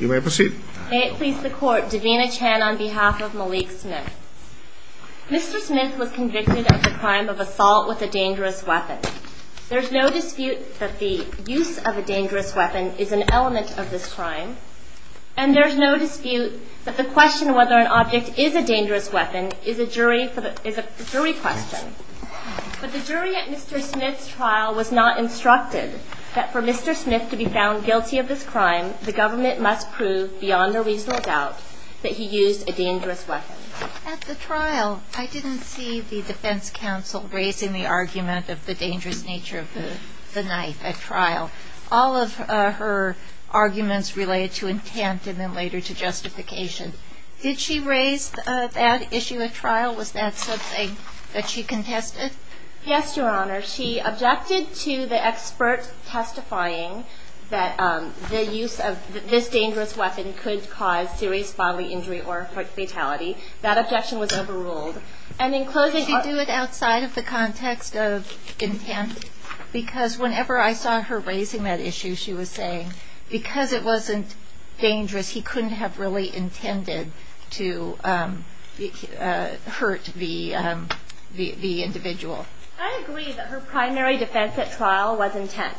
May it please the Court, Davina Chan on behalf of Malik Smith. Mr. Smith was convicted of the crime of assault with a dangerous weapon. There is no dispute that the use of a dangerous weapon is an element of this crime, and there is no dispute that the question whether an object is a dangerous weapon is a jury question. But the jury at Mr. Smith's trial was not instructed that for Mr. Smith to be found guilty of this crime, the government must prove beyond a reasonable doubt that he used a dangerous weapon. At the trial, I didn't see the defense counsel raising the argument of the dangerous nature of the knife at trial. All of her arguments related to intent and then later to justification. Did she raise that issue at trial? Was that something that she contested? Yes, Your Honor. She objected to the expert testifying that the use of this dangerous weapon could cause serious bodily injury or fatality. That objection was overruled. And in closing, to do it outside of the context of intent, because whenever I saw her raising that issue, she was saying because it wasn't dangerous, he couldn't have really intended to hurt the individual. I agree that her primary defense at trial was intent.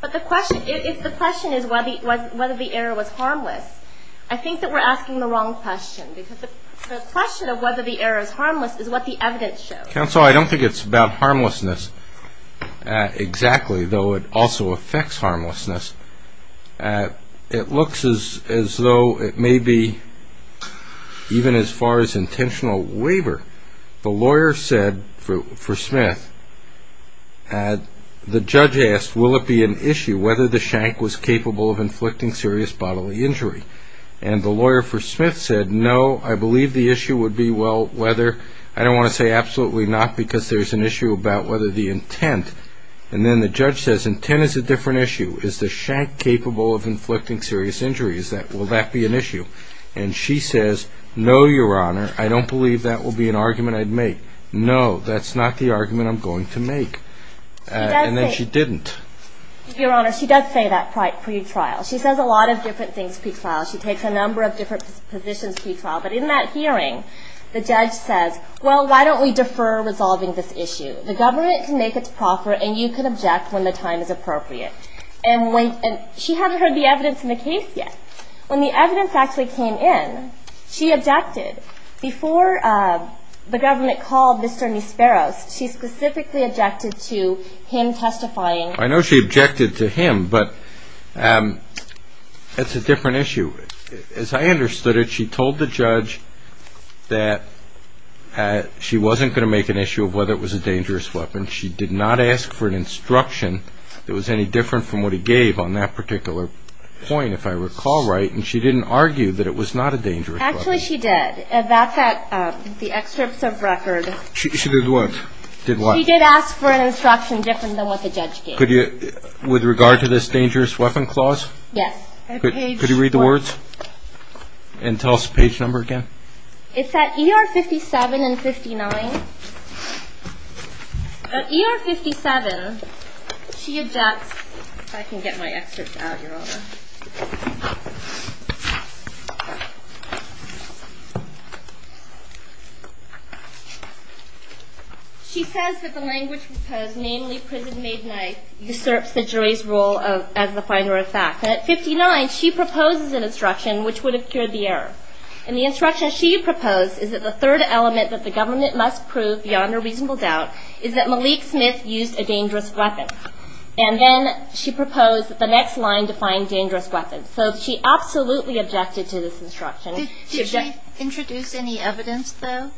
But the question is whether the error was harmless. I think that we're asking the wrong question because the question of whether the error is harmless is what the evidence shows. Counsel, I don't think it's about harmlessness exactly, though it also affects harmlessness. It looks as though it may be even as far as intentional waiver. The lawyer said for Smith, the judge asked, will it be an issue whether the shank was capable of inflicting serious bodily injury? And the lawyer for Smith said, no, I believe the issue would be, well, whether. I don't want to say absolutely not because there's an issue about whether the intent. And then the judge says intent is a different issue. Is the shank capable of inflicting serious injuries? Will that be an issue? And she says, no, Your Honor, I don't believe that will be an argument I'd make. No, that's not the argument I'm going to make. And then she didn't. Your Honor, she does say that pre-trial. She says a lot of different things pre-trial. She takes a number of different positions pre-trial. But in that hearing, the judge says, well, why don't we defer resolving this issue? The government can make its proffer, and you can object when the time is appropriate. And she hadn't heard the evidence in the case yet. When the evidence actually came in, she objected. Before the government called Mr. Nisperos, she specifically objected to him testifying. I know she objected to him, but it's a different issue. As I understood it, she told the judge that she wasn't going to make an issue of whether it was a dangerous weapon. She did not ask for an instruction that was any different from what he gave on that particular point, if I recall right. And she didn't argue that it was not a dangerous weapon. Actually, she did. Back at the excerpts of record. She did what? Did what? She did ask for an instruction different than what the judge gave. With regard to this dangerous weapon clause? Yes. Could you read the words and tell us the page number again? It's at ER 57 and 59. At ER 57, she objects. If I can get my excerpts out, Your Honor. She says that the language proposed, namely prison-made knife, usurps the jury's role as the finder of fact. And at 59, she proposes an instruction which would have cured the error. And the instruction she proposed is that the third element that the government must prove beyond a reasonable doubt is that Malik Smith used a dangerous weapon. And then she proposed the next line to find dangerous weapons. So she absolutely objected to this instruction. Did she introduce any evidence, though?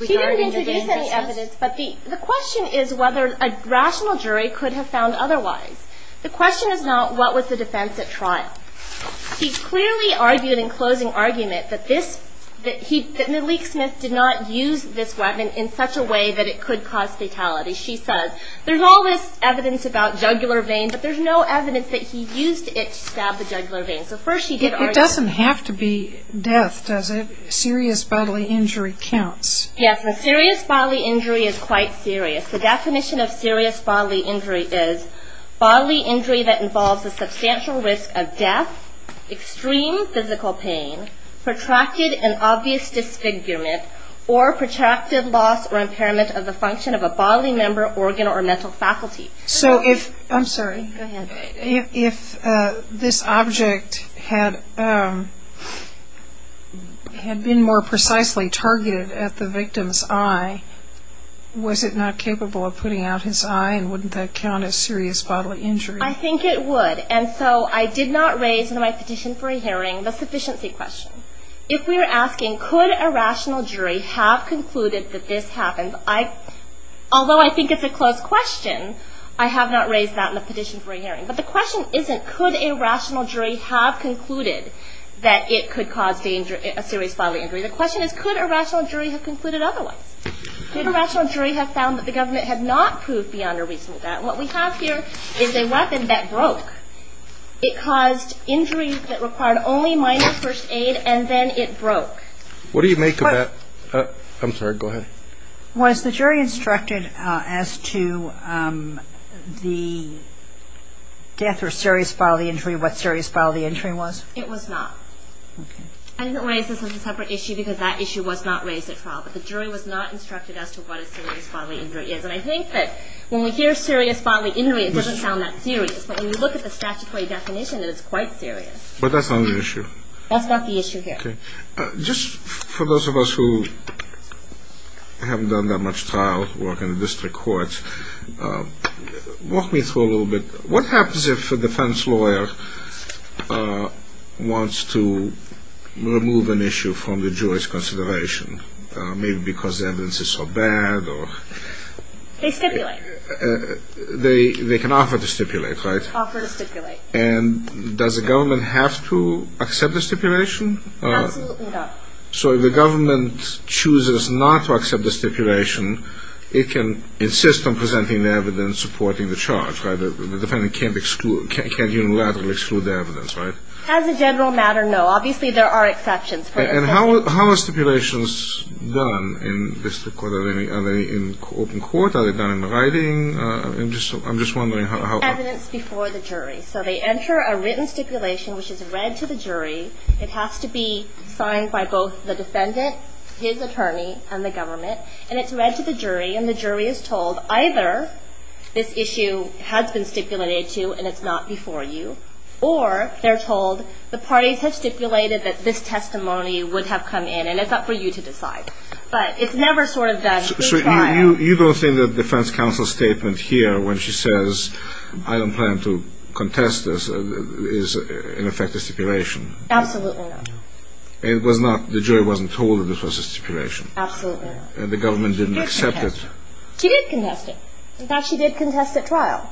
She didn't introduce any evidence, but the question is whether a rational jury could have found otherwise. The question is not what was the defense at trial. She clearly argued in closing argument that Malik Smith did not use this weapon in such a way that it could cause fatality. She says there's all this evidence about jugular veins, but there's no evidence that he used it to stab the jugular veins. So first she did argue. It doesn't have to be death, does it? Serious bodily injury counts. Yes. A serious bodily injury is quite serious. The definition of serious bodily injury is bodily injury that involves the substantial risk of death, extreme physical pain, protracted and obvious disfigurement, or protracted loss or impairment of the function of a bodily member, organ, or mental faculty. I'm sorry. Go ahead. If this object had been more precisely targeted at the victim's eye, was it not capable of putting out his eye and wouldn't that count as serious bodily injury? I think it would. And so I did not raise in my petition for a hearing the sufficiency question. If we're asking could a rational jury have concluded that this happens, although I think it's a close question, I have not raised that in the petition for a hearing. But the question isn't could a rational jury have concluded that it could cause a serious bodily injury. The question is could a rational jury have concluded otherwise. Could a rational jury have found that the government had not proved beyond a reasonable doubt. What we have here is a weapon that broke. It caused injury that required only minor first aid and then it broke. What do you make of that? I'm sorry. Go ahead. Was the jury instructed as to the death or serious bodily injury what serious bodily injury was? It was not. Okay. I didn't raise this as a separate issue because that issue was not raised at trial. But the jury was not instructed as to what a serious bodily injury is. And I think that when we hear serious bodily injury, it doesn't sound that serious. But when you look at the statutory definition, it is quite serious. But that's not an issue. That's not the issue here. Okay. Just for those of us who haven't done that much trial work in the district courts, walk me through a little bit. What happens if a defense lawyer wants to remove an issue from the jury's consideration, maybe because the evidence is so bad? They stipulate. They can offer to stipulate, right? Offer to stipulate. And does the government have to accept the stipulation? Absolutely not. So if the government chooses not to accept the stipulation, it can insist on presenting the evidence supporting the charge, right? The defendant can't unilaterally exclude the evidence, right? As a general matter, no. Obviously, there are exceptions. And how are stipulations done in district court? Are they in open court? Are they done in writing? I'm just wondering how that works. Evidence before the jury. So they enter a written stipulation, which is read to the jury. It has to be signed by both the defendant, his attorney, and the government. And it's read to the jury, and the jury is told either this issue has been stipulated to and it's not before you, or they're told the parties have stipulated that this testimony would have come in and it's up for you to decide. But it's never sort of done in trial. So you don't think that the defense counsel's statement here, when she says I don't plan to contest this, is in effect a stipulation? Absolutely not. It was not? The jury wasn't told that this was a stipulation? Absolutely not. And the government didn't accept it? She did contest it. In fact, she did contest it trial.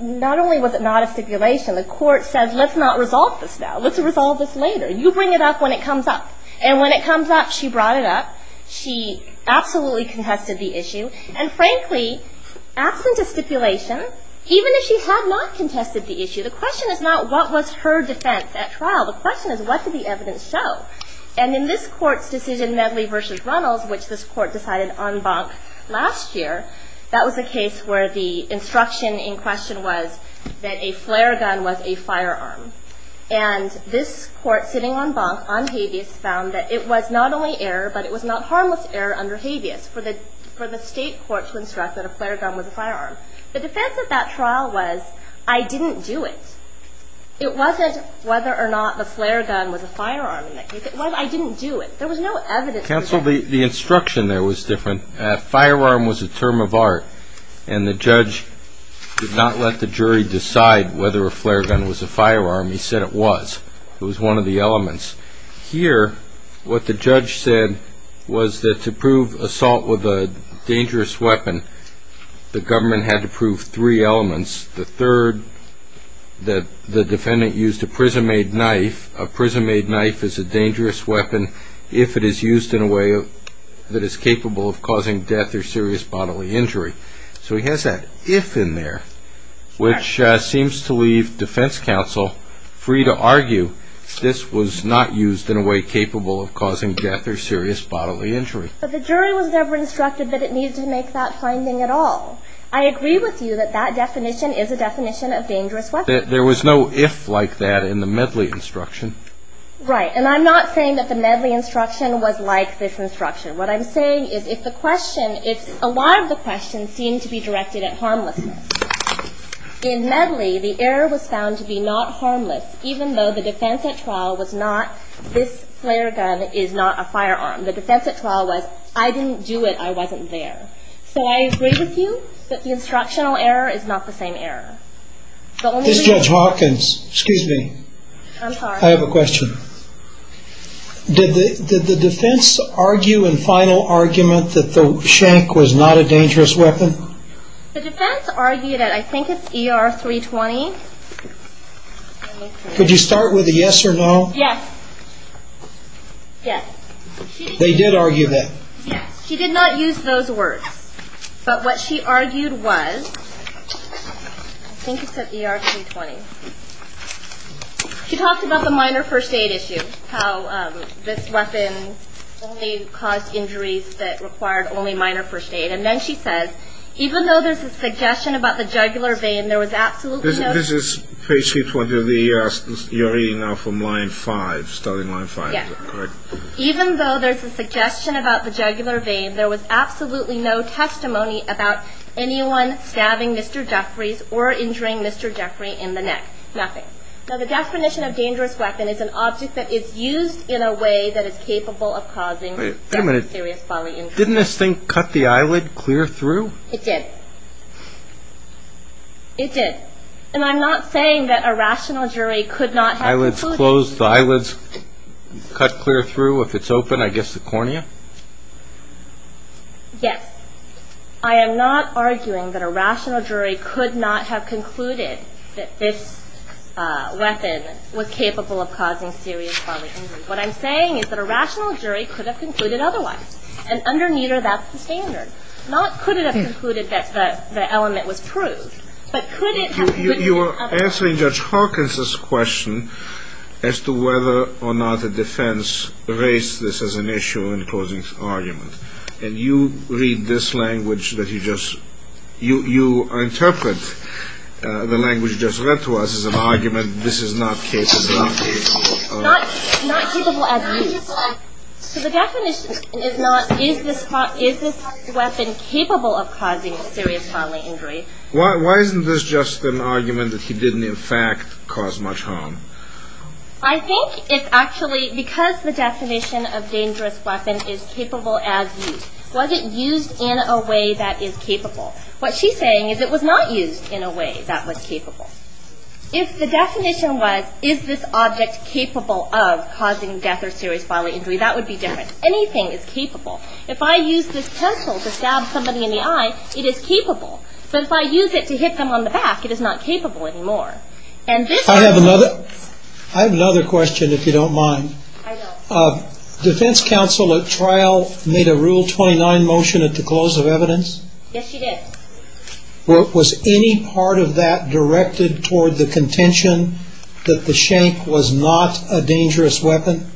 Not only was it not a stipulation, the court said let's not resolve this now. Let's resolve this later. You bring it up when it comes up. And when it comes up, she brought it up. She absolutely contested the issue. And frankly, absent a stipulation, even if she had not contested the issue, the question is not what was her defense at trial. The question is what did the evidence show? And in this court's decision, Medley v. Runnels, which this court decided en banc last year, that was a case where the instruction in question was that a flare gun was a firearm. And this court sitting en banc on habeas found that it was not only error, but it was not harmless error under habeas for the state court to instruct that a flare gun was a firearm. The defense at that trial was I didn't do it. It wasn't whether or not the flare gun was a firearm. It was I didn't do it. There was no evidence for that. Counsel, the instruction there was different. Firearm was a term of art, and the judge did not let the jury decide whether a flare gun was a firearm. He said it was. It was one of the elements. Here, what the judge said was that to prove assault with a dangerous weapon, the government had to prove three elements. The third, that the defendant used a prison-made knife. A prison-made knife is a dangerous weapon if it is used in a way that is capable of causing death or serious bodily injury. So he has that if in there, which seems to leave defense counsel free to argue this was not used in a way capable of causing death or serious bodily injury. But the jury was never instructed that it needed to make that finding at all. I agree with you that that definition is a definition of dangerous weapon. There was no if like that in the Medley instruction. Right. And I'm not saying that the Medley instruction was like this instruction. What I'm saying is if the question is a lot of the questions seem to be directed at harmlessness. In Medley, the error was found to be not harmless, even though the defense at trial was not this flare gun is not a firearm. The defense at trial was I didn't do it, I wasn't there. So I agree with you that the instructional error is not the same error. This is Judge Hawkins. Excuse me. I'm sorry. I have a question. Did the defense argue in final argument that the shank was not a dangerous weapon? The defense argued that I think it's ER 320. Could you start with a yes or no? Yes. Yes. They did argue that. Yes. She did not use those words. But what she argued was I think it's at ER 320. She talked about the minor first aid issue, how this weapon only caused injuries that required only minor first aid. And then she says even though there's a suggestion about the jugular vein, there was absolutely no. This is page 320 of the ER. You're reading now from line five, starting line five. Yes. Even though there's a suggestion about the jugular vein, there was absolutely no testimony about anyone stabbing Mr. Jeffries or injuring Mr. Jeffries in the neck. Nothing. Now, the definition of dangerous weapon is an object that is used in a way that is capable of causing serious bodily injury. Wait a minute. Didn't this thing cut the eyelid clear through? It did. It did. And I'm not saying that a rational jury could not have concluded. If it's closed, the eyelids cut clear through. If it's open, I guess the cornea? Yes. I am not arguing that a rational jury could not have concluded that this weapon was capable of causing serious bodily injury. What I'm saying is that a rational jury could have concluded otherwise. And under Neeter, that's the standard. Not could it have concluded that the element was proved, but could it have concluded Answering Judge Hawkins' question as to whether or not a defense raised this as an issue in closing argument, and you read this language that he just – you interpret the language just read to us as an argument. This is not case-by-case. Not capable as is. So the definition is not is this weapon capable of causing serious bodily injury. Why isn't this just an argument that he didn't in fact cause much harm? I think it's actually because the definition of dangerous weapon is capable as used. Was it used in a way that is capable? What she's saying is it was not used in a way that was capable. If the definition was is this object capable of causing death or serious bodily injury, that would be different. Anything is capable. If I use this pencil to stab somebody in the eye, it is capable. But if I use it to hit them on the back, it is not capable anymore. And this – I have another question if you don't mind. I don't. Defense counsel at trial made a Rule 29 motion at the close of evidence. Yes, she did. Was any part of that directed toward the contention that the shank was not a dangerous weapon?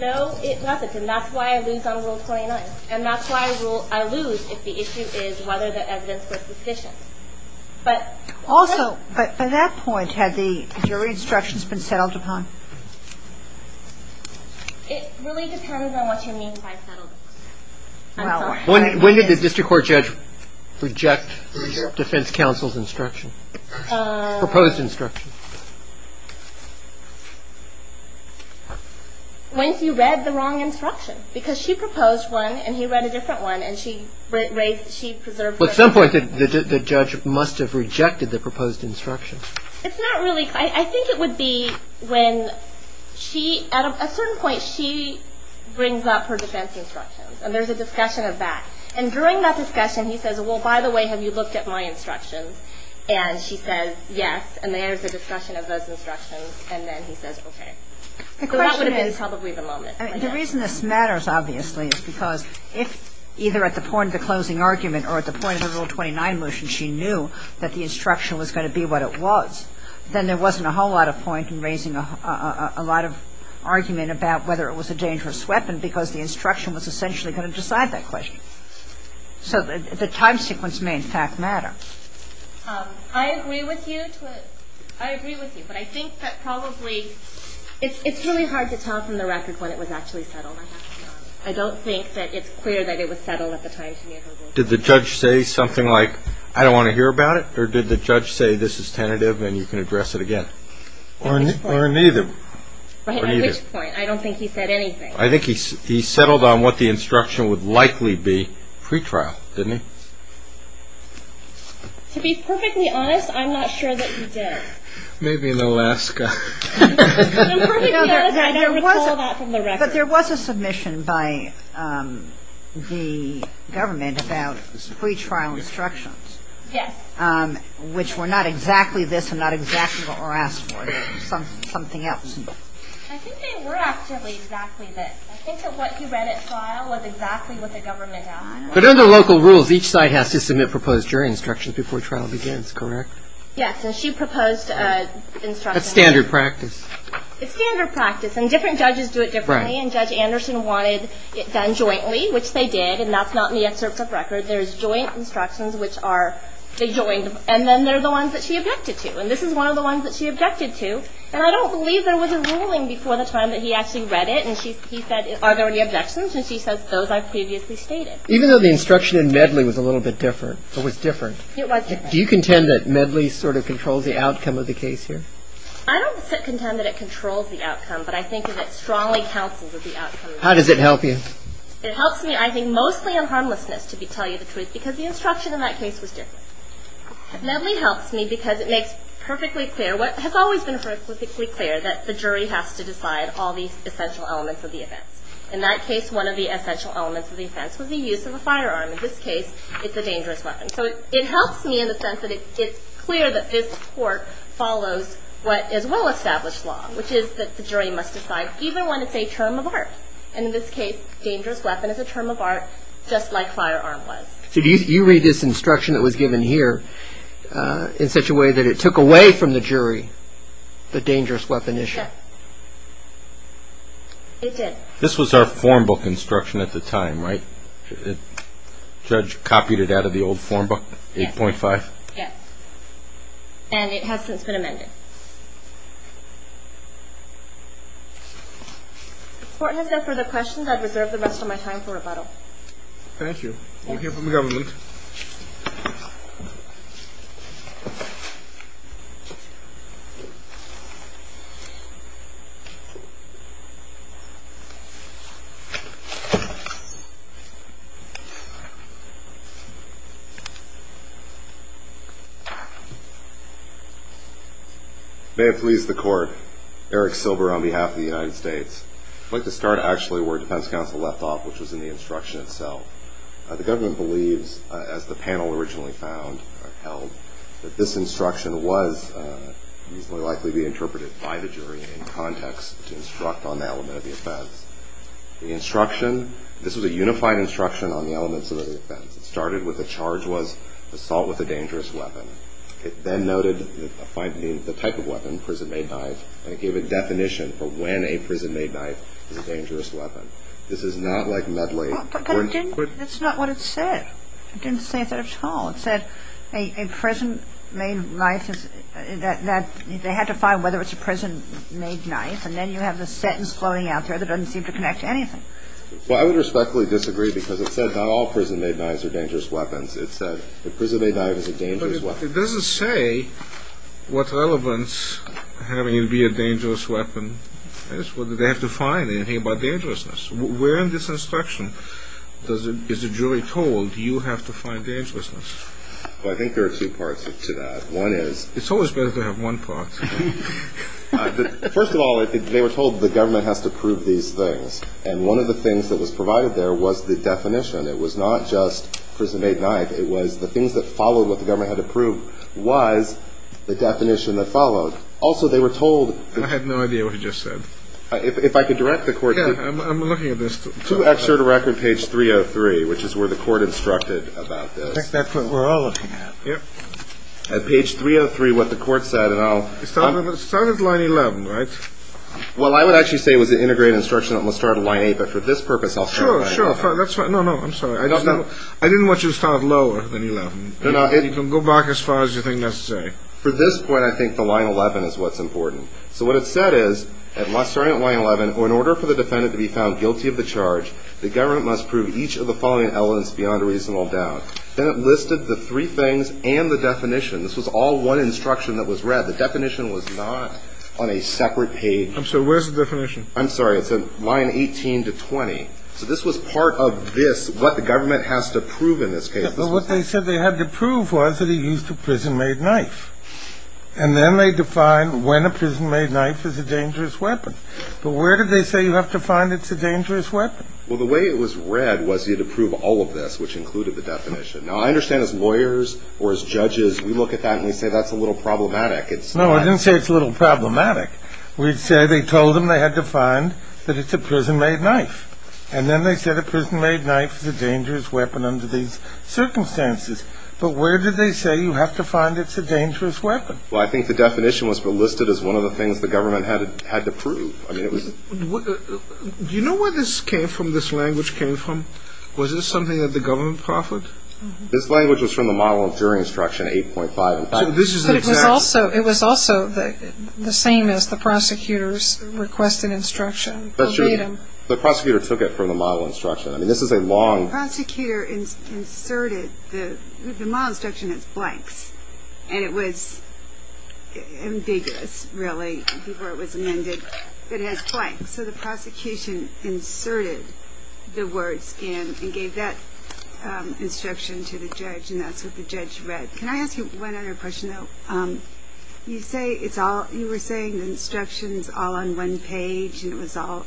No, it wasn't. And that's why I lose on Rule 29. And that's why I lose if the issue is whether the evidence was sufficient. Also, by that point, had the jury instructions been settled upon? It really depends on what you mean by settled. When did the district court judge reject defense counsel's instruction, proposed instruction? When he read the wrong instruction. Because she proposed one and he read a different one, and she preserved her. Well, at some point, the judge must have rejected the proposed instruction. It's not really – I think it would be when she – at a certain point, she brings up her defense instructions, and there's a discussion of that. And during that discussion, he says, well, by the way, have you looked at my instructions? And she says, yes, and there's a discussion of those instructions, and then he says, okay. So that would have been probably the moment. The reason this matters, obviously, is because if either at the point of the closing argument or at the point of the Rule 29 motion she knew that the instruction was going to be what it was, then there wasn't a whole lot of point in raising a lot of argument about whether it was a dangerous weapon because the instruction was essentially going to decide that question. So the time sequence may, in fact, matter. I agree with you. I agree with you. But I think that probably – it's really hard to tell from the record when it was actually settled. I don't think that it's clear that it was settled at the time she knew who it was. Did the judge say something like, I don't want to hear about it? Or did the judge say, this is tentative and you can address it again? Or neither. Right, at which point? I don't think he said anything. I think he settled on what the instruction would likely be pre-trial, didn't he? To be perfectly honest, I'm not sure that he did. Maybe in Alaska. But I'm perfectly honest, I don't recall that from the record. But there was a submission by the government about pre-trial instructions. Yes. Which were not exactly this and not exactly what we're asked for. Something else. I think they were actually exactly this. I think that what he read at trial was exactly what the government asked for. But under local rules, each side has to submit proposed jury instructions before trial begins, correct? Yes. And she proposed instructions. That's standard practice. It's standard practice. And different judges do it differently. And Judge Anderson wanted it done jointly, which they did. And that's not in the excerpts of record. There's joint instructions, which are – they joined. And then there are the ones that she objected to. And this is one of the ones that she objected to. And I don't believe there was a ruling before the time that he actually read it. And he said, are there any objections? And she says, those I've previously stated. Even though the instruction in Medley was a little bit different, or was different. It was different. Do you contend that Medley sort of controls the outcome of the case here? I don't contend that it controls the outcome. But I think that it strongly counsels the outcome. How does it help you? It helps me, I think, mostly in harmlessness, to tell you the truth. Because the instruction in that case was different. Medley helps me because it makes perfectly clear – what has always been perfectly clear, that the jury has to decide all the essential elements of the offense. In that case, one of the essential elements of the offense was the use of a firearm. In this case, it's a dangerous weapon. So it helps me in the sense that it's clear that this court follows what is well-established law, which is that the jury must decide even when it's a term of art. And in this case, dangerous weapon is a term of art, just like firearm was. So do you read this instruction that was given here in such a way that it took away from the jury the dangerous weapon issue? Yes. It did. This was our form book instruction at the time, right? The judge copied it out of the old form book, 8.5? Yes. And it has since been amended. Thank you. Thank you for the government. May it please the court. Eric Silber on behalf of the United States. I'd like to start actually where defense counsel left off, which was in the instruction itself. The government believes, as the panel originally found or held, that this instruction was more likely to be interpreted by the jury in context to instruct on the element of the offense. The instruction, this was a unified instruction on the elements of the offense. It started with the charge was assault with a dangerous weapon. It then noted the type of weapon, prison-made knife, and it gave a definition for when a prison-made knife is a dangerous weapon. This is not like medley. But that's not what it said. It didn't say that at all. It said a prison-made knife is that they had to find whether it's a prison-made knife, and then you have the sentence floating out there that doesn't seem to connect to anything. Well, I would respectfully disagree because it said not all prison-made knives are dangerous weapons. It said a prison-made knife is a dangerous weapon. It doesn't say what relevance having it be a dangerous weapon is, whether they have to find anything about dangerousness. Where in this instruction is the jury told you have to find dangerousness? Well, I think there are two parts to that. It's always better to have one part. First of all, they were told the government has to prove these things, and one of the things that was provided there was the definition. It was not just prison-made knife. It was the things that followed what the government had to prove was the definition that followed. Also, they were told – I had no idea what he just said. If I could direct the Court – Yeah, I'm looking at this. Two extra to record, page 303, which is where the Court instructed about this. I think that's what we're all looking at. Yep. At page 303, what the Court said, and I'll – It started at line 11, right? Well, I would actually say it was an integrated instruction that started at line 8, but for this purpose, I'll – Sure, sure. No, no. I'm sorry. I didn't want you to start lower than 11. You can go back as far as you think necessary. For this point, I think the line 11 is what's important. So what it said is, starting at line 11, in order for the defendant to be found guilty of the charge, the government must prove each of the following elements beyond a reasonable doubt. Then it listed the three things and the definition. This was all one instruction that was read. The definition was not on a separate page. I'm sorry. Where's the definition? I'm sorry. It said line 18 to 20. So this was part of this, what the government has to prove in this case. Yeah, but what they said they had to prove was that he used a prison-made knife. And then they defined when a prison-made knife is a dangerous weapon. But where did they say you have to find it's a dangerous weapon? Well, the way it was read was he had to prove all of this, which included the definition. Now, I understand as lawyers or as judges, we look at that and we say that's a little problematic. No, I didn't say it's a little problematic. We'd say they told him they had to find that it's a prison-made knife. And then they said a prison-made knife is a dangerous weapon under these circumstances. But where did they say you have to find it's a dangerous weapon? Well, I think the definition was listed as one of the things the government had to prove. I mean, it was – Do you know where this came from, this language came from? Was this something that the government proffered? This language was from the model of jury instruction 8.5. So this is an example – But it was also the same as the prosecutor's requested instruction. That's true. The prosecutor took it from the model instruction. I mean, this is a long – The prosecutor inserted – the model instruction has blanks. And it was ambiguous, really, before it was amended. It has blanks. So the prosecution inserted the words in and gave that instruction to the judge. And that's what the judge read. Can I ask you one other question, though? You say it's all – you were saying instructions all on one page and it was all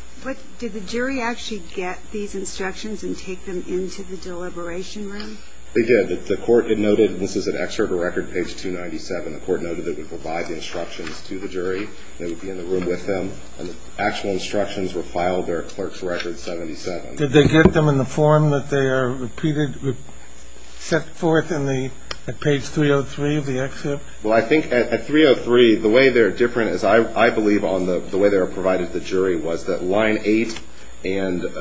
– did the jury actually get these instructions and take them into the deliberation room? They did. The court noted – this is an excerpt of record page 297. The court noted it would provide the instructions to the jury. They would be in the room with them. And the actual instructions were filed there at clerk's record 77. Did they get them in the form that they are repeated – set forth in the – at page 303 of the excerpt? Well, I think at 303, the way they're different is I believe on the way they were provided to the jury was that line 8 and –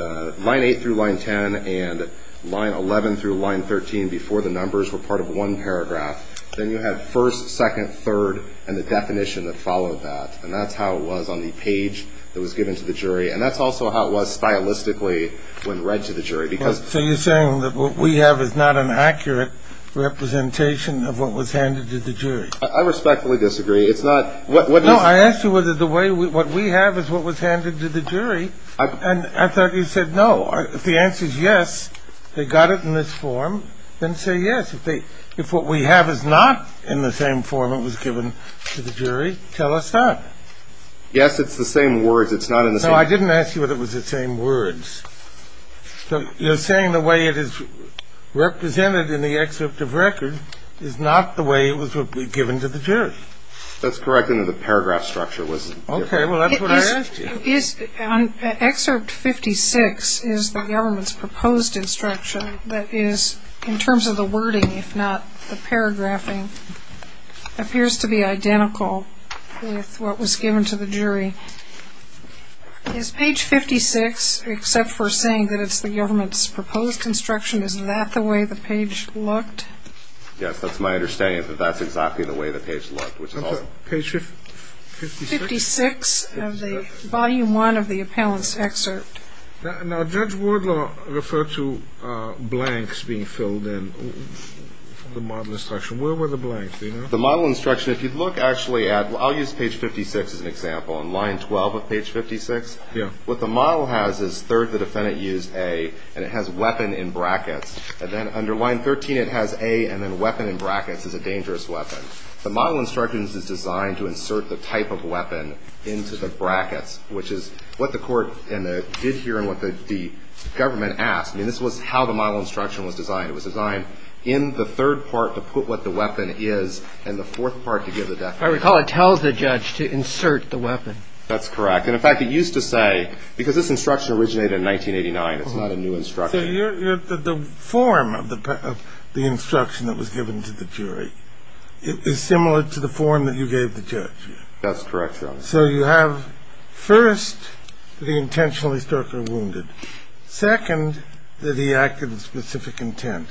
line 8 through line 10 and line 11 through line 13 before the numbers were part of one paragraph. Then you have first, second, third, and the definition that followed that. And that's how it was on the page that was given to the jury. And that's also how it was stylistically when read to the jury because – So you're saying that what we have is not an accurate representation of what was handed to the jury? I respectfully disagree. It's not – what – No, I asked you whether the way – what we have is what was handed to the jury. And I thought you said no. If the answer is yes, they got it in this form, then say yes. If they – if what we have is not in the same form it was given to the jury, tell us that. Yes, it's the same words. It's not in the same – No, I didn't ask you whether it was the same words. So you're saying the way it is represented in the excerpt of record is not the way it was given to the jury? That's correct. The paragraph structure was different. Okay. Well, that's what I asked you. Excerpt 56 is the government's proposed instruction that is in terms of the wording, if not the paragraphing, appears to be identical with what was given to the jury. Is page 56, except for saying that it's the government's proposed instruction, is that the way the page looked? Yes, that's my understanding is that that's exactly the way the page looked, which is also – I'm sorry. Page 56? 56 of the – volume one of the appellant's excerpt. Now, Judge Wardlaw referred to blanks being filled in for the model instruction. Where were the blanks? The model instruction, if you look actually at – I'll use page 56 as an example. On line 12 of page 56, what the model has is third, the defendant used A, and it has weapon in brackets. And then under line 13, it has A and then weapon in brackets is a dangerous weapon. The model instruction is designed to insert the type of weapon into the brackets, which is what the court did here and what the government asked. I mean, this was how the model instruction was designed. It was designed in the third part to put what the weapon is and the fourth part to give the definition. I recall it tells the judge to insert the weapon. That's correct. And, in fact, it used to say – because this instruction originated in 1989. It's not a new instruction. So you're – the form of the instruction that was given to the jury is similar to the form that you gave the judge. That's correct, Your Honor. So you have, first, that he intentionally struck her wounded. Second, that he acted with specific intent.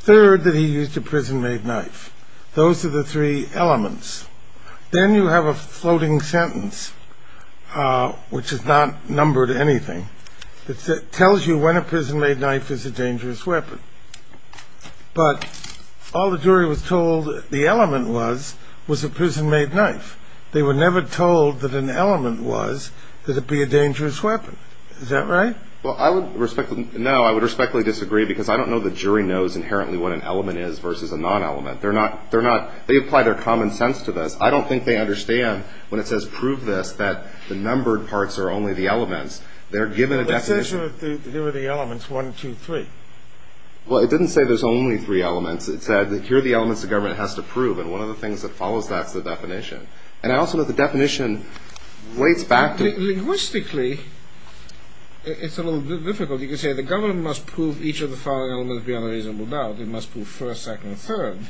Third, that he used a prison-made knife. Those are the three elements. Then you have a floating sentence, which is not numbered anything. It tells you when a prison-made knife is a dangerous weapon. But all the jury was told the element was was a prison-made knife. They were never told that an element was that it be a dangerous weapon. Is that right? Well, I would respectfully – no, I would respectfully disagree because I don't know the jury knows inherently what an element is versus a non-element. They're not – they apply their common sense to this. I don't think they understand when it says prove this that the numbered parts are only the elements. They're given a definition. It says here are the elements, one, two, three. Well, it didn't say there's only three elements. It said here are the elements the government has to prove. And one of the things that follows that is the definition. And I also know the definition weights back to – Linguistically, it's a little bit difficult. You can say the government must prove each of the following elements beyond a reasonable doubt. It must prove first, second, and third.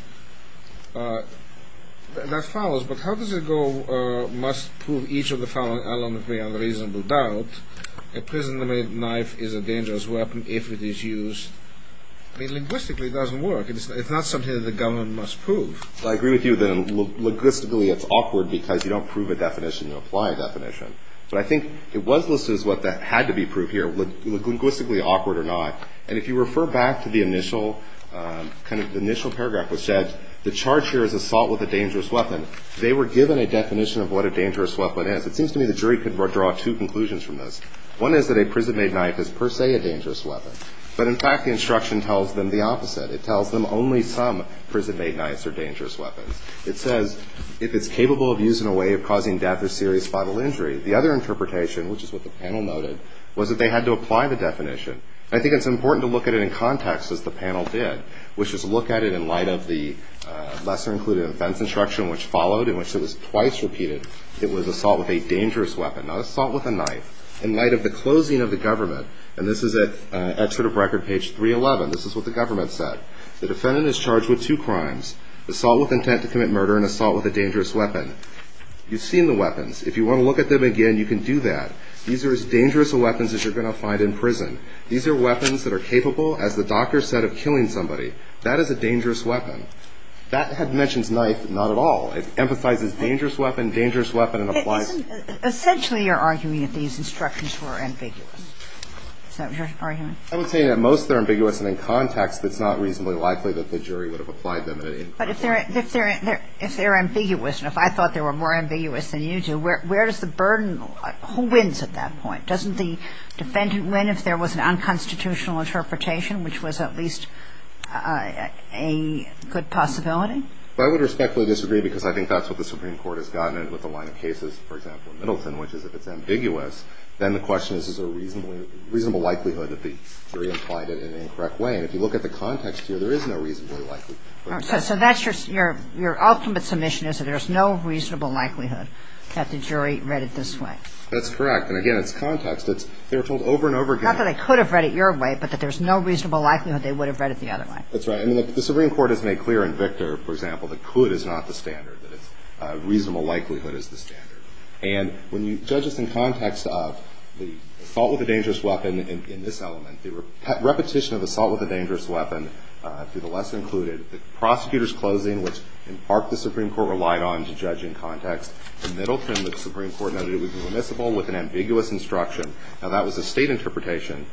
That follows. But how does it go must prove each of the following elements beyond a reasonable doubt? A prison-made knife is a dangerous weapon if it is used – I mean, linguistically, it doesn't work. It's not something that the government must prove. I agree with you that linguistically it's awkward because you don't prove a definition. You apply a definition. But I think it was listed as what had to be proved here, linguistically awkward or not. And if you refer back to the initial kind of – the initial paragraph which said the charge here is assault with a dangerous weapon, they were given a definition of what a dangerous weapon is. It seems to me the jury could draw two conclusions from this. One is that a prison-made knife is per se a dangerous weapon. But, in fact, the instruction tells them the opposite. It tells them only some prison-made knives are dangerous weapons. It says if it's capable of using a way of causing death or serious spinal injury. The other interpretation, which is what the panel noted, was that they had to apply the definition. I think it's important to look at it in context, as the panel did, which is look at it in light of the lesser-included offense instruction which followed, in which it was twice repeated it was assault with a dangerous weapon, not assault with a knife. In light of the closing of the government, and this is at Excerpt of Record, page 311, this is what the government said. The defendant is charged with two crimes. Assault with intent to commit murder and assault with a dangerous weapon. You've seen the weapons. If you want to look at them again, you can do that. These are as dangerous a weapons as you're going to find in prison. These are weapons that are capable, as the doctor said, of killing somebody. That is a dangerous weapon. That had mentioned knife, but not at all. It emphasizes dangerous weapon, dangerous weapon, and applies – Essentially, you're arguing that these instructions were ambiguous. Is that what you're arguing? I would say that most of them are ambiguous, and in context, it's not reasonably likely that the jury would have applied them at any point. But if they're ambiguous, and if I thought they were more ambiguous than you do, where does the burden – who wins at that point? Doesn't the defendant win if there was an unconstitutional interpretation, which was at least a good possibility? I would respectfully disagree because I think that's what the Supreme Court has gotten with a line of cases, for example, in Middleton, which is if it's ambiguous, then the question is, is there a reasonable likelihood that the jury applied it in an incorrect way? And if you look at the context here, there is no reasonably likely – So that's your – your ultimate submission is that there's no reasonable likelihood that the jury read it this way? That's correct. And, again, it's context. It's – they were told over and over again – Not that they could have read it your way, but that there's no reasonable likelihood they would have read it the other way. That's right. I mean, the Supreme Court has made clear in Victor, for example, that could is not the standard, that it's – reasonable likelihood is the standard. And when you judge this in context of the assault with a dangerous weapon in this element, the repetition of assault with a dangerous weapon through the lesson included, the prosecutor's closing, which in part the Supreme Court relied on to judge in context, in Middleton, the Supreme Court noted it was remissible with an ambiguous instruction. Now, that was a state interpretation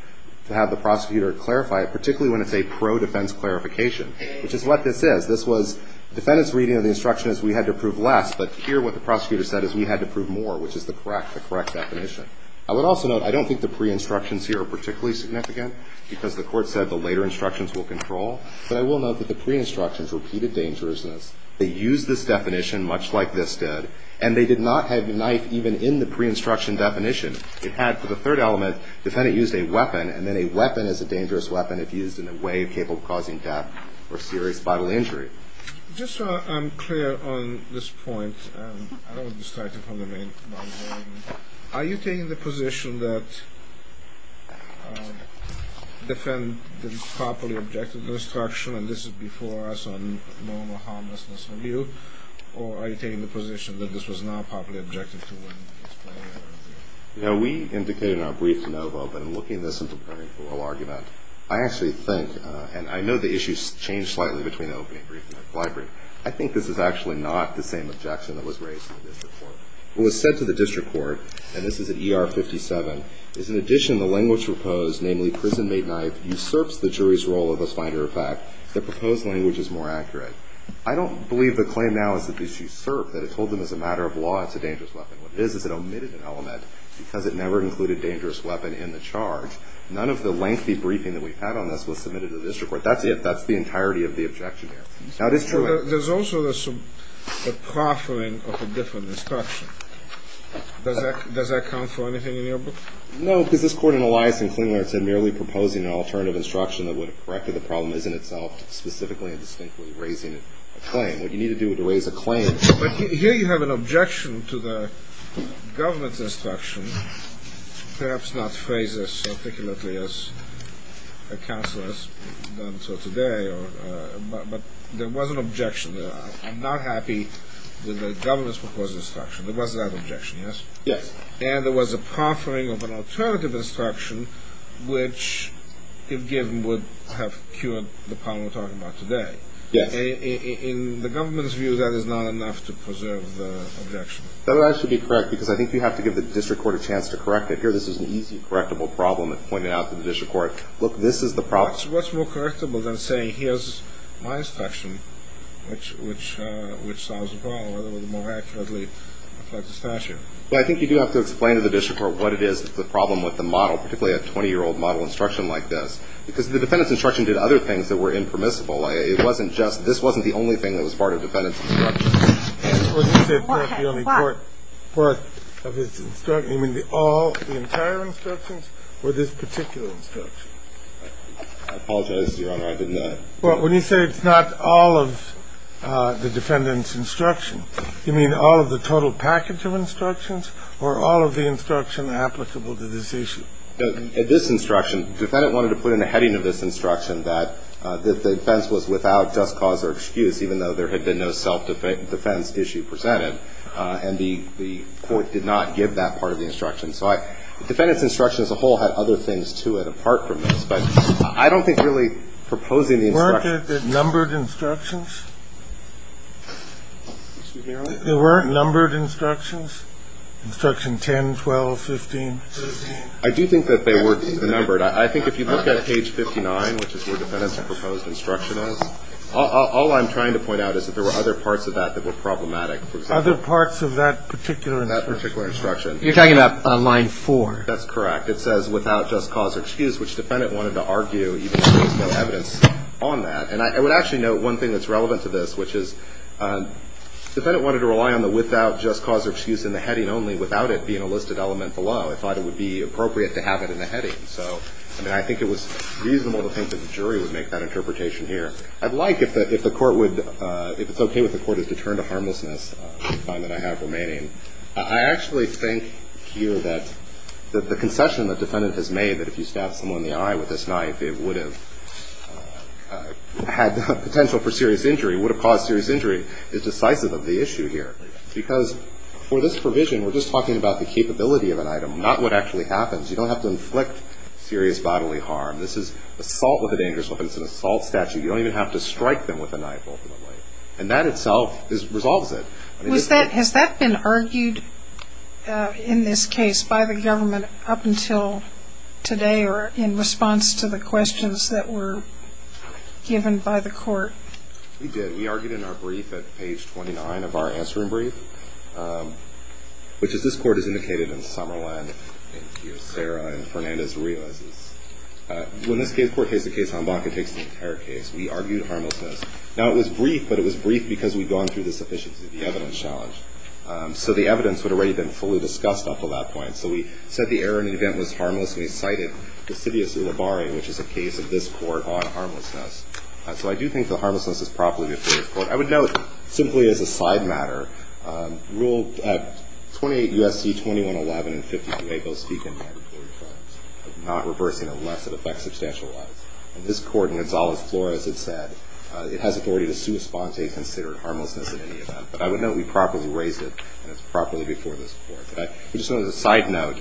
to have the prosecutor clarify it, particularly when it's a pro-defense clarification, which is what this is. This was – defendant's reading of the instruction is we had to prove less, but here what the prosecutor said is we had to prove more, which is the correct – the correct definition. I would also note I don't think the pre-instructions here are particularly significant because the Court said the later instructions will control. But I will note that the pre-instructions repeated dangerousness. They used this definition, much like this did, and they did not have the knife even in the pre-instruction definition. It had, for the third element, defendant used a weapon, and then a weapon is a dangerous weapon if used in a way capable of causing death or serious vital injury. Just so I'm clear on this point, I don't want to start you from the main point. Are you taking the position that defendant didn't properly object to the instruction, and this is before us on normal harmlessness review, or are you taking the position that this was not properly objective to win this case? You know, we indicated in our brief to Novo that in looking at this as a pre-trial argument, I actually think, and I know the issues change slightly between the opening brief and the fly brief, I think this is actually not the same objection that was raised in the district court. What was said to the district court, and this is at ER 57, is in addition the language proposed, namely prison made knife, usurps the jury's role of a finder of fact, the proposed language is more accurate. I don't believe the claim now is that this usurped, that it told them as a matter of law it's a dangerous weapon. What it is is it omitted an element because it never included dangerous weapon in the charge. None of the lengthy briefing that we've had on this was submitted to the district court. That's it. That's the entirety of the objection there. Now, it is true. There's also the proffering of a different instruction. Does that count for anything in your book? No, because this court in Elias and Klingler said merely proposing an alternative instruction that would have corrected the problem isn't itself specifically and distinctly raising a claim. What you need to do is raise a claim. But here you have an objection to the government's instruction, perhaps not phrased as articulately as a counselor has done so today, but there was an objection there. I'm not happy with the government's proposed instruction. There was that objection, yes? Yes. And there was a proffering of an alternative instruction which, if given, would have cured the problem we're talking about today. Yes. In the government's view, that is not enough to preserve the objection. That would actually be correct because I think you have to give the district court a chance to correct it. Here this is an easy correctable problem that's pointed out to the district court. Look, this is the problem. What's more correctable than saying, here's my instruction, which solves the problem, or more accurately, affects the statute? Well, I think you do have to explain to the district court what it is that's the problem with the model, particularly a 20-year-old model instruction like this, because the defendant's instruction did other things that were impermissible. It wasn't just this wasn't the only thing that was part of the defendant's instruction. Well, you say it's not the only part of his instruction. You mean all the entire instructions or this particular instruction? I apologize, Your Honor, I did not. Well, when you say it's not all of the defendant's instruction, you mean all of the total package of instructions or all of the instruction applicable to this issue? This instruction, the defendant wanted to put in the heading of this instruction that the defense was without just cause or excuse, even though there had been no self-defense issue presented. And the court did not give that part of the instruction. So the defendant's instruction as a whole had other things to it apart from this. But I don't think really proposing the instruction. Weren't there numbered instructions? There weren't numbered instructions? Instruction 10, 12, 15? I do think that they were numbered. I think if you look at page 59, which is where the defendant's proposed instruction is, all I'm trying to point out is that there were other parts of that that were problematic. Other parts of that particular instruction? That particular instruction. You're talking about line 4? That's correct. It says without just cause or excuse, which the defendant wanted to argue, even though there was no evidence on that. And I would actually note one thing that's relevant to this, which is the defendant wanted to rely on the without just cause or excuse in the heading only, without it being a listed element below. They thought it would be appropriate to have it in the heading. So, I mean, I think it was reasonable to think that the jury would make that interpretation here. I'd like, if the Court would, if it's okay with the Court, to return to harmlessness on the time that I have remaining. I actually think here that the concession the defendant has made, that if you stabbed someone in the eye with this knife, it would have had potential for serious injury, would have caused serious injury, is decisive of the issue here. Because for this provision, we're just talking about the capability of an item, not what actually happens. You don't have to inflict serious bodily harm. This is assault with a dangerous weapon. It's an assault statute. You don't even have to strike them with a knife, ultimately. And that itself resolves it. Has that been argued in this case by the government up until today or in response to the questions that were given by the Court? We did. We argued in our brief at page 29 of our answering brief, which is this Court has indicated in Summerlin, in Kiyosera, in Fernandez-Rios. When this Court takes the case, Hambaca takes the entire case. We argued harmlessness. Now, it was brief, but it was brief because we'd gone through the sufficiency of the evidence challenge. So the evidence would have already been fully discussed up until that point. So we said the error in the event was harmless, and we cited Vesivius Ulibarri, which is a case of this Court on harmlessness. So I do think the harmlessness is properly before this Court. I would note, simply as a side matter, Rule 28 U.S.C. 2111 and 52A both speak in mandatory defense of not reversing unless it affects substantial lives. In this Court, in Gonzales Flores, it said it has authority to sua sponte considered harmlessness in any event. But I would note we properly raised it, and it's properly before this Court. I would just note as a side note,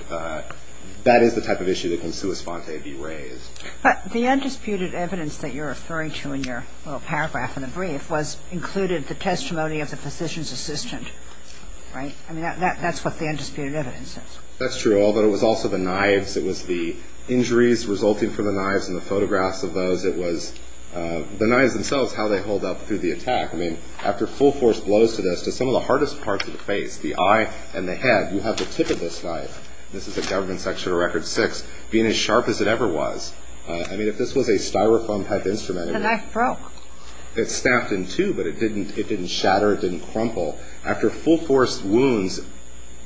that is the type of issue that can sua sponte be raised. But the undisputed evidence that you're referring to in your little paragraph in the brief was included the testimony of the physician's assistant, right? I mean, that's what the undisputed evidence is. That's true, although it was also the knives. It was the injuries resulting from the knives and the photographs of those. It was the knives themselves, how they hold up through the attack. I mean, after full force blows to this, to some of the hardest parts of the face, the eye and the head, you have the tip of this knife, this is a government section of record six, being as sharp as it ever was. I mean, if this was a styrofoam type instrument, it would be. The knife broke. It snapped in two, but it didn't shatter. It didn't crumple. After full force wounds,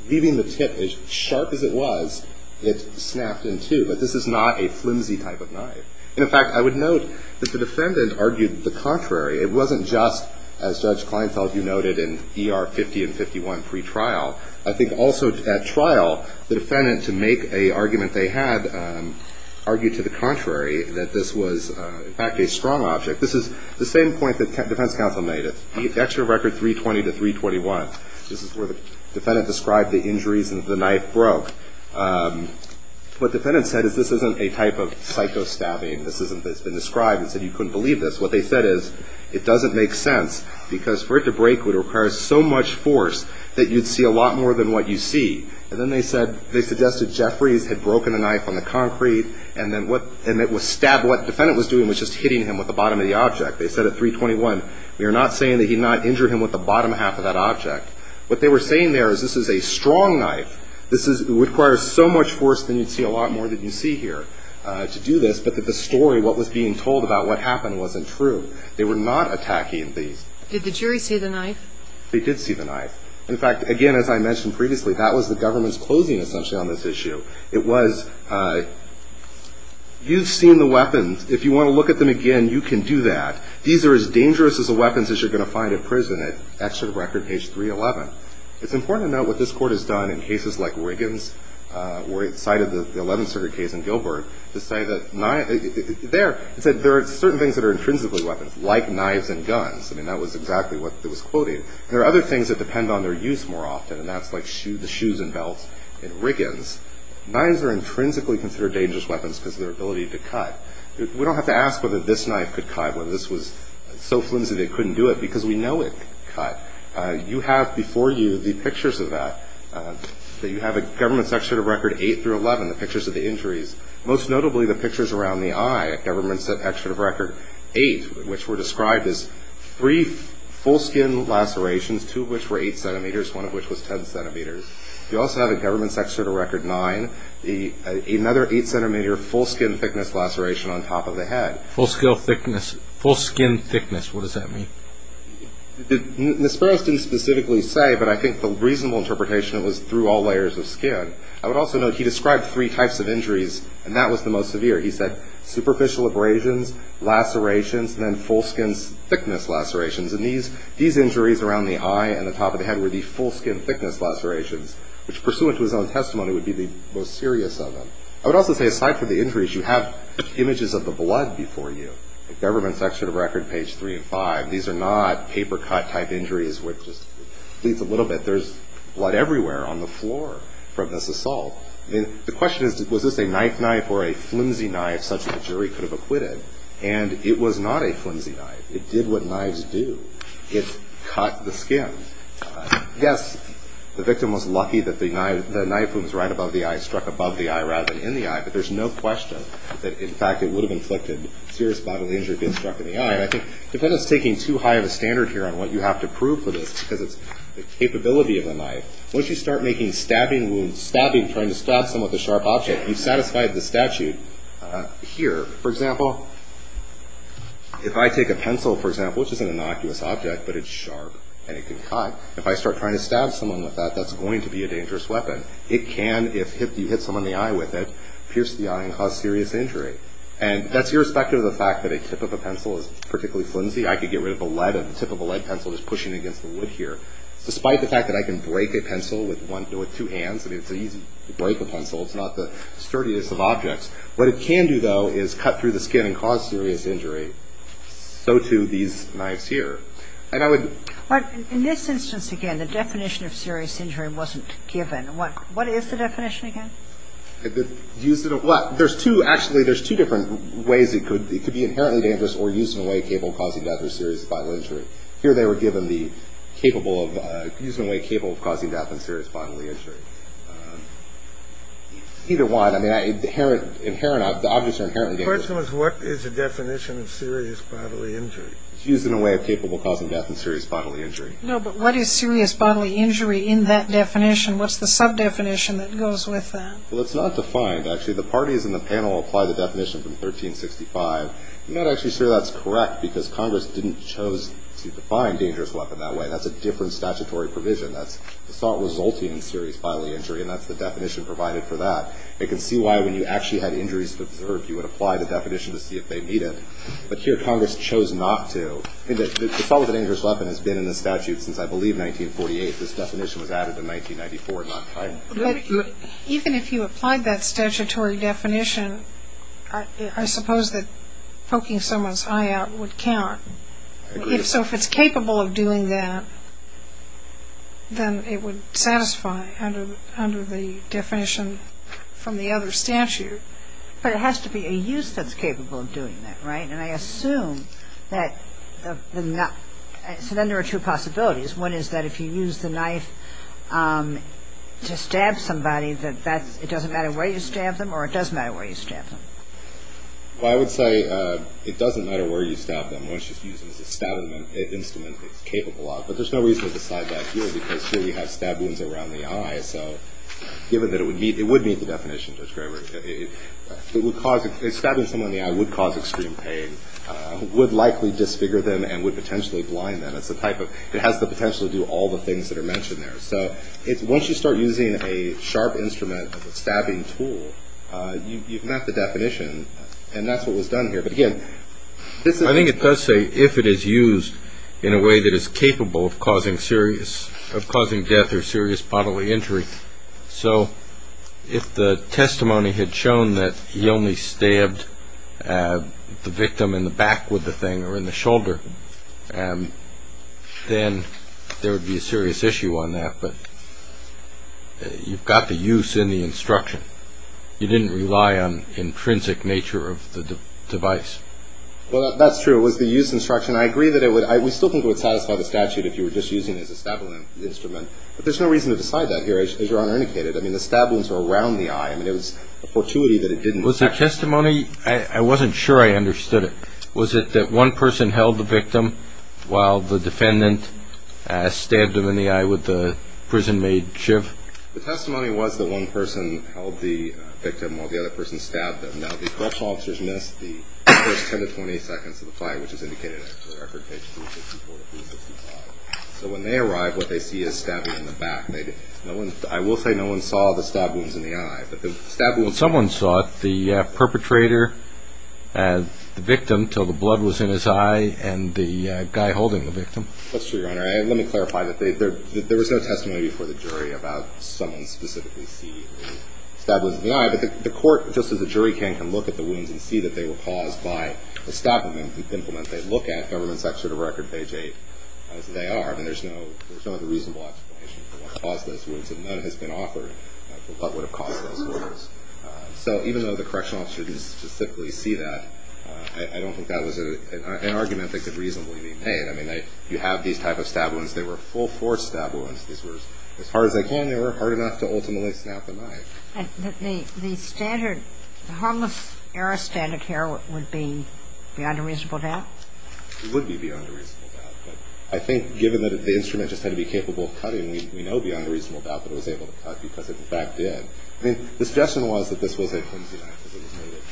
leaving the tip as sharp as it was, it snapped in two. But this is not a flimsy type of knife. And, in fact, I would note that the defendant argued the contrary. It wasn't just, as Judge Kleinfeld, you noted, in ER 50 and 51 pretrial. I think also at trial, the defendant, to make an argument they had, argued to the contrary, that this was, in fact, a strong object. This is the same point that the defense counsel made. The extra record 320 to 321. This is where the defendant described the injuries and the knife broke. What the defendant said is this isn't a type of psycho stabbing. This isn't. It's been described and said you couldn't believe this. What they said is it doesn't make sense because for it to break, it would require so much force that you'd see a lot more than what you see. And then they said, they suggested Jeffries had broken a knife on the concrete and then what, and it was stabbed. What the defendant was doing was just hitting him with the bottom of the object. They said at 321, we are not saying that he did not injure him with the bottom half of that object. What they were saying there is this is a strong knife. This is, it requires so much force that you'd see a lot more than you see here to do this, but that the story, what was being told about what happened, wasn't true. They were not attacking these. Did the jury see the knife? They did see the knife. In fact, again, as I mentioned previously, that was the government's closing essentially on this issue. It was you've seen the weapons. If you want to look at them again, you can do that. These are as dangerous as the weapons as you're going to find in prison. That's the record, page 311. It's important to note what this Court has done in cases like Wiggins, where it cited the Eleventh Circuit case in Gilbert, to say that there are certain things that are intrinsically weapons, like knives and guns. I mean, that was exactly what it was quoting. There are other things that depend on their use more often, and that's like the shoes and belts in Wiggins. Knives are intrinsically considered dangerous weapons because of their ability to cut. We don't have to ask whether this knife could cut, whether this was so flimsy they couldn't do it, because we know it could cut. You have before you the pictures of that, that you have a government's Excerpt of Record 8 through 11, the pictures of the injuries, most notably the pictures around the eye at government's Excerpt of Record 8, which were described as three full-skin lacerations, two of which were 8 centimeters, one of which was 10 centimeters. You also have at government's Excerpt of Record 9, another 8-centimeter full-skin thickness laceration on top of the head. Full-skin thickness, what does that mean? Nisperos didn't specifically say, but I think the reasonable interpretation was through all layers of skin. I would also note he described three types of injuries, and that was the most severe. He said superficial abrasions, lacerations, and then full-skin thickness lacerations. And these injuries around the eye and the top of the head were the full-skin thickness lacerations, which, pursuant to his own testimony, would be the most serious of them. I would also say, aside from the injuries, you have images of the blood before you, at government's Excerpt of Record page 3 and 5. These are not paper-cut-type injuries, which just bleeds a little bit. There's blood everywhere on the floor from this assault. The question is, was this a knife-knife or a flimsy knife such that a jury could have acquitted? And it was not a flimsy knife. It did what knives do. It cut the skin. Yes, the victim was lucky that the knife was right above the eye, struck above the eye rather than in the eye, but there's no question that, in fact, it would have inflicted serious bodily injury if it had been struck in the eye. And I think the defendant's taking too high of a standard here on what you have to prove for this, because it's the capability of the knife. Once you start making stabbing wounds, stabbing, trying to stab someone with a sharp object, you've satisfied the statute here. For example, if I take a pencil, for example, which is an innocuous object, but it's sharp and it can cut, if I start trying to stab someone with that, that's going to be a dangerous weapon. It can, if you hit someone in the eye with it, pierce the eye and cause serious injury. And that's irrespective of the fact that a tip of a pencil is particularly flimsy. I could get rid of the tip of a lead pencil just pushing against the wood here. Despite the fact that I can break a pencil with two hands, I mean, it's easy to break a pencil. It's not the sturdiest of objects. What it can do, though, is cut through the skin and cause serious injury. So, too, these knives here. And I would – But in this instance, again, the definition of serious injury wasn't given. What is the definition again? Use it – well, there's two – actually, there's two different ways it could – it could be inherently dangerous or used in a way capable of causing death or serious bodily injury. Here they were given the capable of – used in a way capable of causing death and serious bodily injury. Either one. I mean, inherent – the objects are inherently dangerous. The question was what is the definition of serious bodily injury. It's used in a way capable of causing death and serious bodily injury. No, but what is serious bodily injury in that definition? What's the sub-definition that goes with that? Well, it's not defined. Actually, the parties in the panel applied the definition from 1365. I'm not actually sure that's correct because Congress didn't choose to define dangerous weapon that way. That's a different statutory provision. That's assault resulting in serious bodily injury, and that's the definition provided for that. It can see why when you actually had injuries observed, you would apply the definition to see if they meet it. But here Congress chose not to. Assault with a dangerous weapon has been in the statute since, I believe, 1948. This definition was added in 1994, not – Even if you applied that statutory definition, I suppose that poking someone's eye out would count. I agree. So if it's capable of doing that, then it would satisfy under the definition from the other statute. But it has to be a use that's capable of doing that, right? And I assume that – so then there are two possibilities. One is that if you use the knife to stab somebody that that's – it doesn't matter where you stab them, or it does matter where you stab them? Well, I would say it doesn't matter where you stab them. Once you use it as a stabbing instrument, it's capable of. But there's no reason to decide that here because here we have stab wounds around the eye. So given that it would meet – it would meet the definition, Judge Graber. It would cause – stabbing someone in the eye would cause extreme pain, would likely disfigure them, and would potentially blind them. It's the type of – it has the potential to do all the things that are mentioned there. So once you start using a sharp instrument as a stabbing tool, you've met the definition. And that's what was done here. But, again, this is – I think it does say if it is used in a way that is capable of causing serious – of causing death or serious bodily injury. So if the testimony had shown that he only stabbed the victim in the back with the thing or in the shoulder, then there would be a serious issue on that. But you've got the use in the instruction. You didn't rely on intrinsic nature of the device. Well, that's true. It was the use instruction. I agree that it would – we still think it would satisfy the statute if you were just using it as a stabbing instrument. But there's no reason to decide that here, as Your Honor indicated. I mean, the stab wounds were around the eye. I mean, it was a fortuity that it didn't – Was the testimony – I wasn't sure I understood it. Was it that one person held the victim while the defendant stabbed him in the eye with the prison-made shiv? The testimony was that one person held the victim while the other person stabbed him. Now, the correctional officers missed the first 10 to 20 seconds of the fight, which is indicated in the record, page 364 to 365. So when they arrive, what they see is stabbing in the back. I will say no one saw the stab wounds in the eye. But the stab wounds in the eye – Well, someone saw it, the perpetrator, the victim, until the blood was in his eye and the guy holding the victim. That's true, Your Honor. Let me clarify that there was no testimony before the jury about someone specifically seeing the stab wounds in the eye. and see that they were caused by the stabbing implement. They look at Government's Excerpt of Record, page 8, as they are. I mean, there's no reasonable explanation for what caused those wounds, and none has been offered of what would have caused those wounds. So even though the correctional officers specifically see that, I don't think that was an argument that could reasonably be made. I mean, you have these type of stab wounds. They were full-force stab wounds. These were – as hard as they can, they were hard enough to ultimately snap the knife. The standard – the harmless error standard here would be beyond a reasonable doubt? It would be beyond a reasonable doubt. But I think given that the instrument just had to be capable of cutting, we know beyond a reasonable doubt that it was able to cut because it, in fact, did. I mean, the suggestion was that this was a flimsy knife because it was made of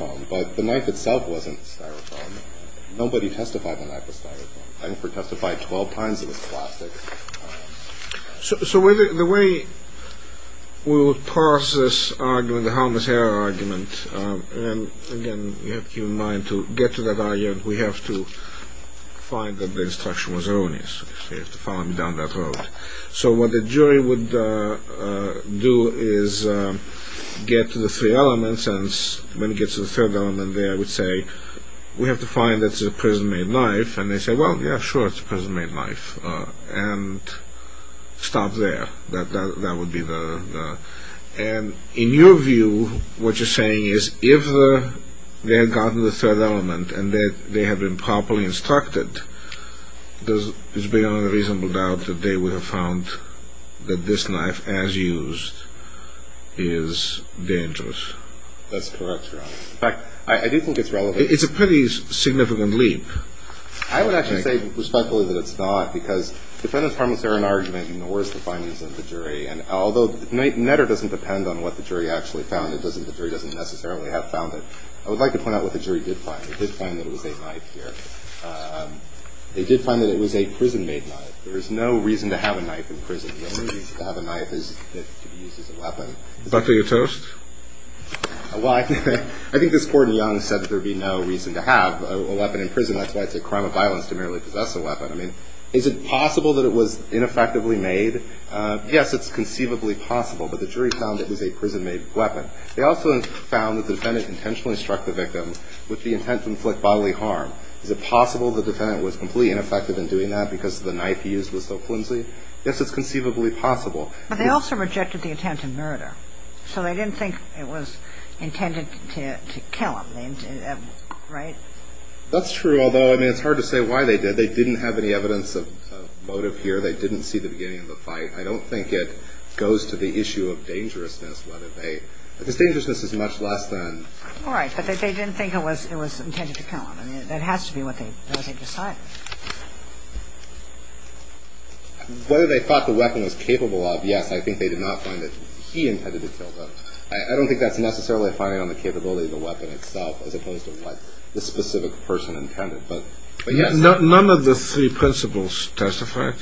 styrofoam, but the knife itself wasn't styrofoam. Nobody testified the knife was styrofoam. Hanford testified 12 times it was plastic. So the way we would parse this argument, the harmless error argument, and, again, you have to keep in mind to get to that argument, we have to find that the instruction was erroneous. You have to follow me down that road. So what the jury would do is get to the three elements, and when it gets to the third element there, I would say, we have to find that it's a prison-made knife, and they say, well, yeah, sure, it's a prison-made knife, and stop there. That would be the... And in your view, what you're saying is if they had gotten to the third element and they had been properly instructed, it's beyond a reasonable doubt that they would have found that this knife, as used, is dangerous. That's correct, Your Honor. In fact, I do think it's relevant... It's a pretty significant leap. I would actually say, respectfully, that it's not, because defendant's harmless error argument ignores the findings of the jury, and although Netter doesn't depend on what the jury actually found, the jury doesn't necessarily have found it, I would like to point out what the jury did find. They did find that it was a knife here. They did find that it was a prison-made knife. There is no reason to have a knife in prison. The only reason to have a knife is that it could be used as a weapon. Dr. Utost? Well, I think this Court in Young said that there would be no reason to have a weapon in prison. That's why I say crime of violence to merely possess a weapon. I mean, is it possible that it was ineffectively made? Yes, it's conceivably possible, but the jury found it was a prison-made weapon. They also found that the defendant intentionally struck the victim with the intent to inflict bodily harm. Is it possible the defendant was completely ineffective in doing that because the knife he used was so flimsy? Yes, it's conceivably possible. But they also rejected the intent of murder. So they didn't think it was intended to kill him, right? That's true, although, I mean, it's hard to say why they did. They didn't have any evidence of motive here. They didn't see the beginning of the fight. I don't think it goes to the issue of dangerousness, whether they – because dangerousness is much less than – All right, but they didn't think it was intended to kill him. I mean, that has to be what they decided. Whether they thought the weapon was capable of, yes, I think they did not find that he intended to kill them. I don't think that's necessarily a finding on the capability of the weapon itself as opposed to what the specific person intended. But, yes. None of the three principles testified?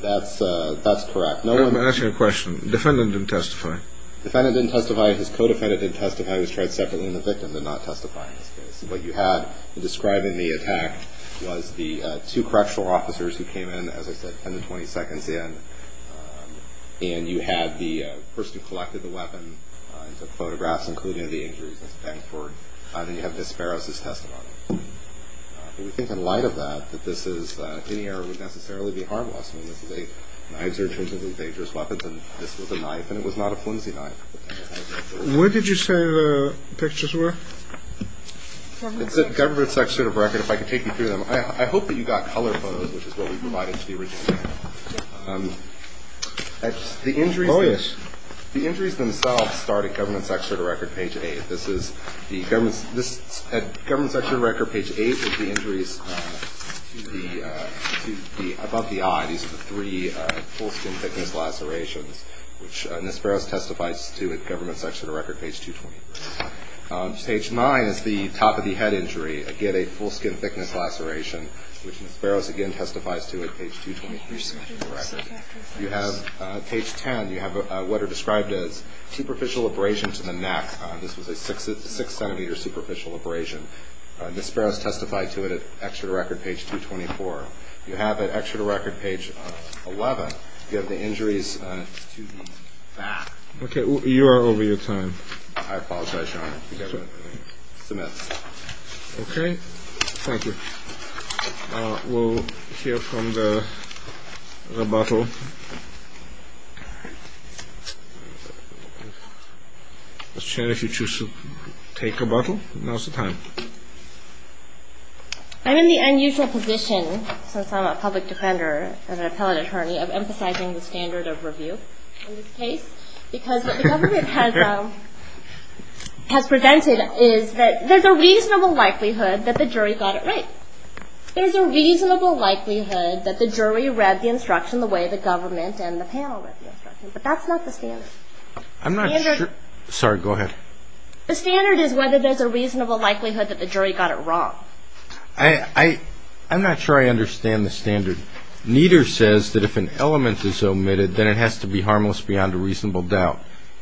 That's correct. I'm asking a question. Defendant didn't testify. Defendant didn't testify. His co-defendant didn't testify. He was tried separately, and the victim did not testify in this case. What you had in describing the attack was the two correctional officers who came in, as I said, 10 to 20 seconds in, and you had the person who collected the weapon and took photographs, including the injuries. That's Bangford. And then you have Desperos' testimony. But we think in light of that, that this is – any error would necessarily be harmless. I mean, this is a – knives are intrinsically dangerous weapons, and this was a knife, and it was not a flimsy knife. Where did you say the pictures were? It's at Government Secretary of the Record. If I could take you through them. I hope that you got color photos, which is what we provided to the original. The injuries themselves start at Government Secretary of the Record, page 8. This is the – at Government Secretary of the Record, page 8, is the injuries to the – above the eye. These are the three full-skin thickness lacerations, which Desperos testifies to at Government Secretary of the Record, page 223. Page 9 is the top-of-the-head injury, again, a full-skin thickness laceration, which Desperos again testifies to at page 223. You have – page 10, you have what are described as superficial abrasion to the neck. This was a 6-centimeter superficial abrasion. Desperos testified to it at Executive Record, page 224. You have at Executive Record, page 11, you have the injuries to the back. Okay. You are over your time. I apologize, Your Honor. The government submits. Okay. Thank you. We'll hear from the rebuttal. Ms. Chen, if you choose to take rebuttal, now is the time. I'm in the unusual position, since I'm a public defender and an appellate attorney, of emphasizing the standard of review in this case, because what the government has presented is that there's a reasonable likelihood that the jury got it right. There's a reasonable likelihood that the jury read the instruction the way the government and the panel read the instruction, but that's not the standard. I'm not sure – sorry, go ahead. The standard is whether there's a reasonable likelihood that the jury got it wrong. I'm not sure I understand the standard. Neither says that if an element is omitted, then it has to be harmless beyond a reasonable doubt.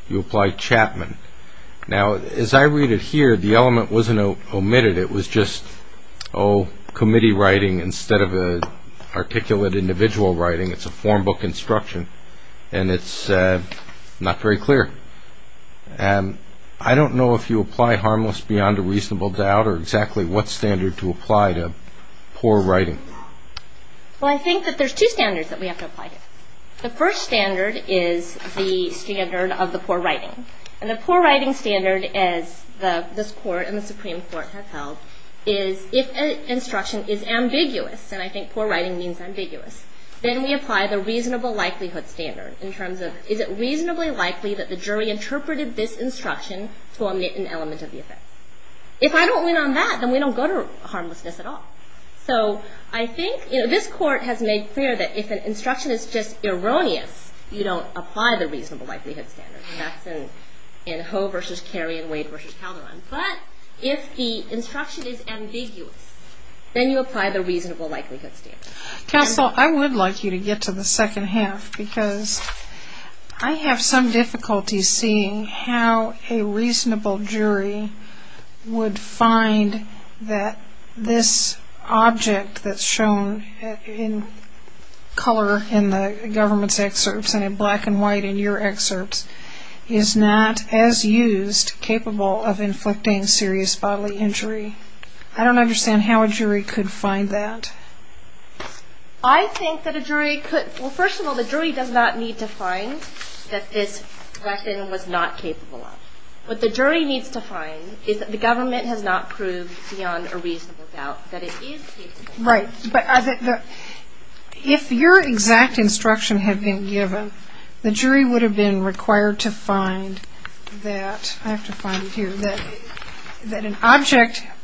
You apply Chapman. Now, as I read it here, the element wasn't omitted. It was just, oh, committee writing instead of an articulate individual writing. It's a form book instruction, and it's not very clear. I don't know if you apply harmless beyond a reasonable doubt or exactly what standard to apply to poor writing. Well, I think that there's two standards that we have to apply to. The first standard is the standard of the poor writing, and the poor writing standard, as this Court and the Supreme Court have held, is if an instruction is ambiguous, and I think poor writing means ambiguous, then we apply the reasonable likelihood standard in terms of is it reasonably likely that the jury interpreted this instruction to omit an element of the offense. If I don't win on that, then we don't go to harmlessness at all. So I think this Court has made clear that if an instruction is just erroneous, you don't apply the reasonable likelihood standard, and that's in Ho v. Kerry and Wade v. Calderon. But if the instruction is ambiguous, then you apply the reasonable likelihood standard. Counsel, I would like you to get to the second half because I have some difficulty seeing how a reasonable jury would find that this object that's shown in color in the government's excerpts and in black and white in your excerpts is not, as used, capable of inflicting serious bodily injury. I don't understand how a jury could find that. I think that a jury could – well, first of all, the jury does not need to find that this weapon was not capable of. What the jury needs to find is that the government has not proved beyond a reasonable doubt that it is capable of. Right. But if your exact instruction had been given, the jury would have been required to find that – I have to find it here – that an object –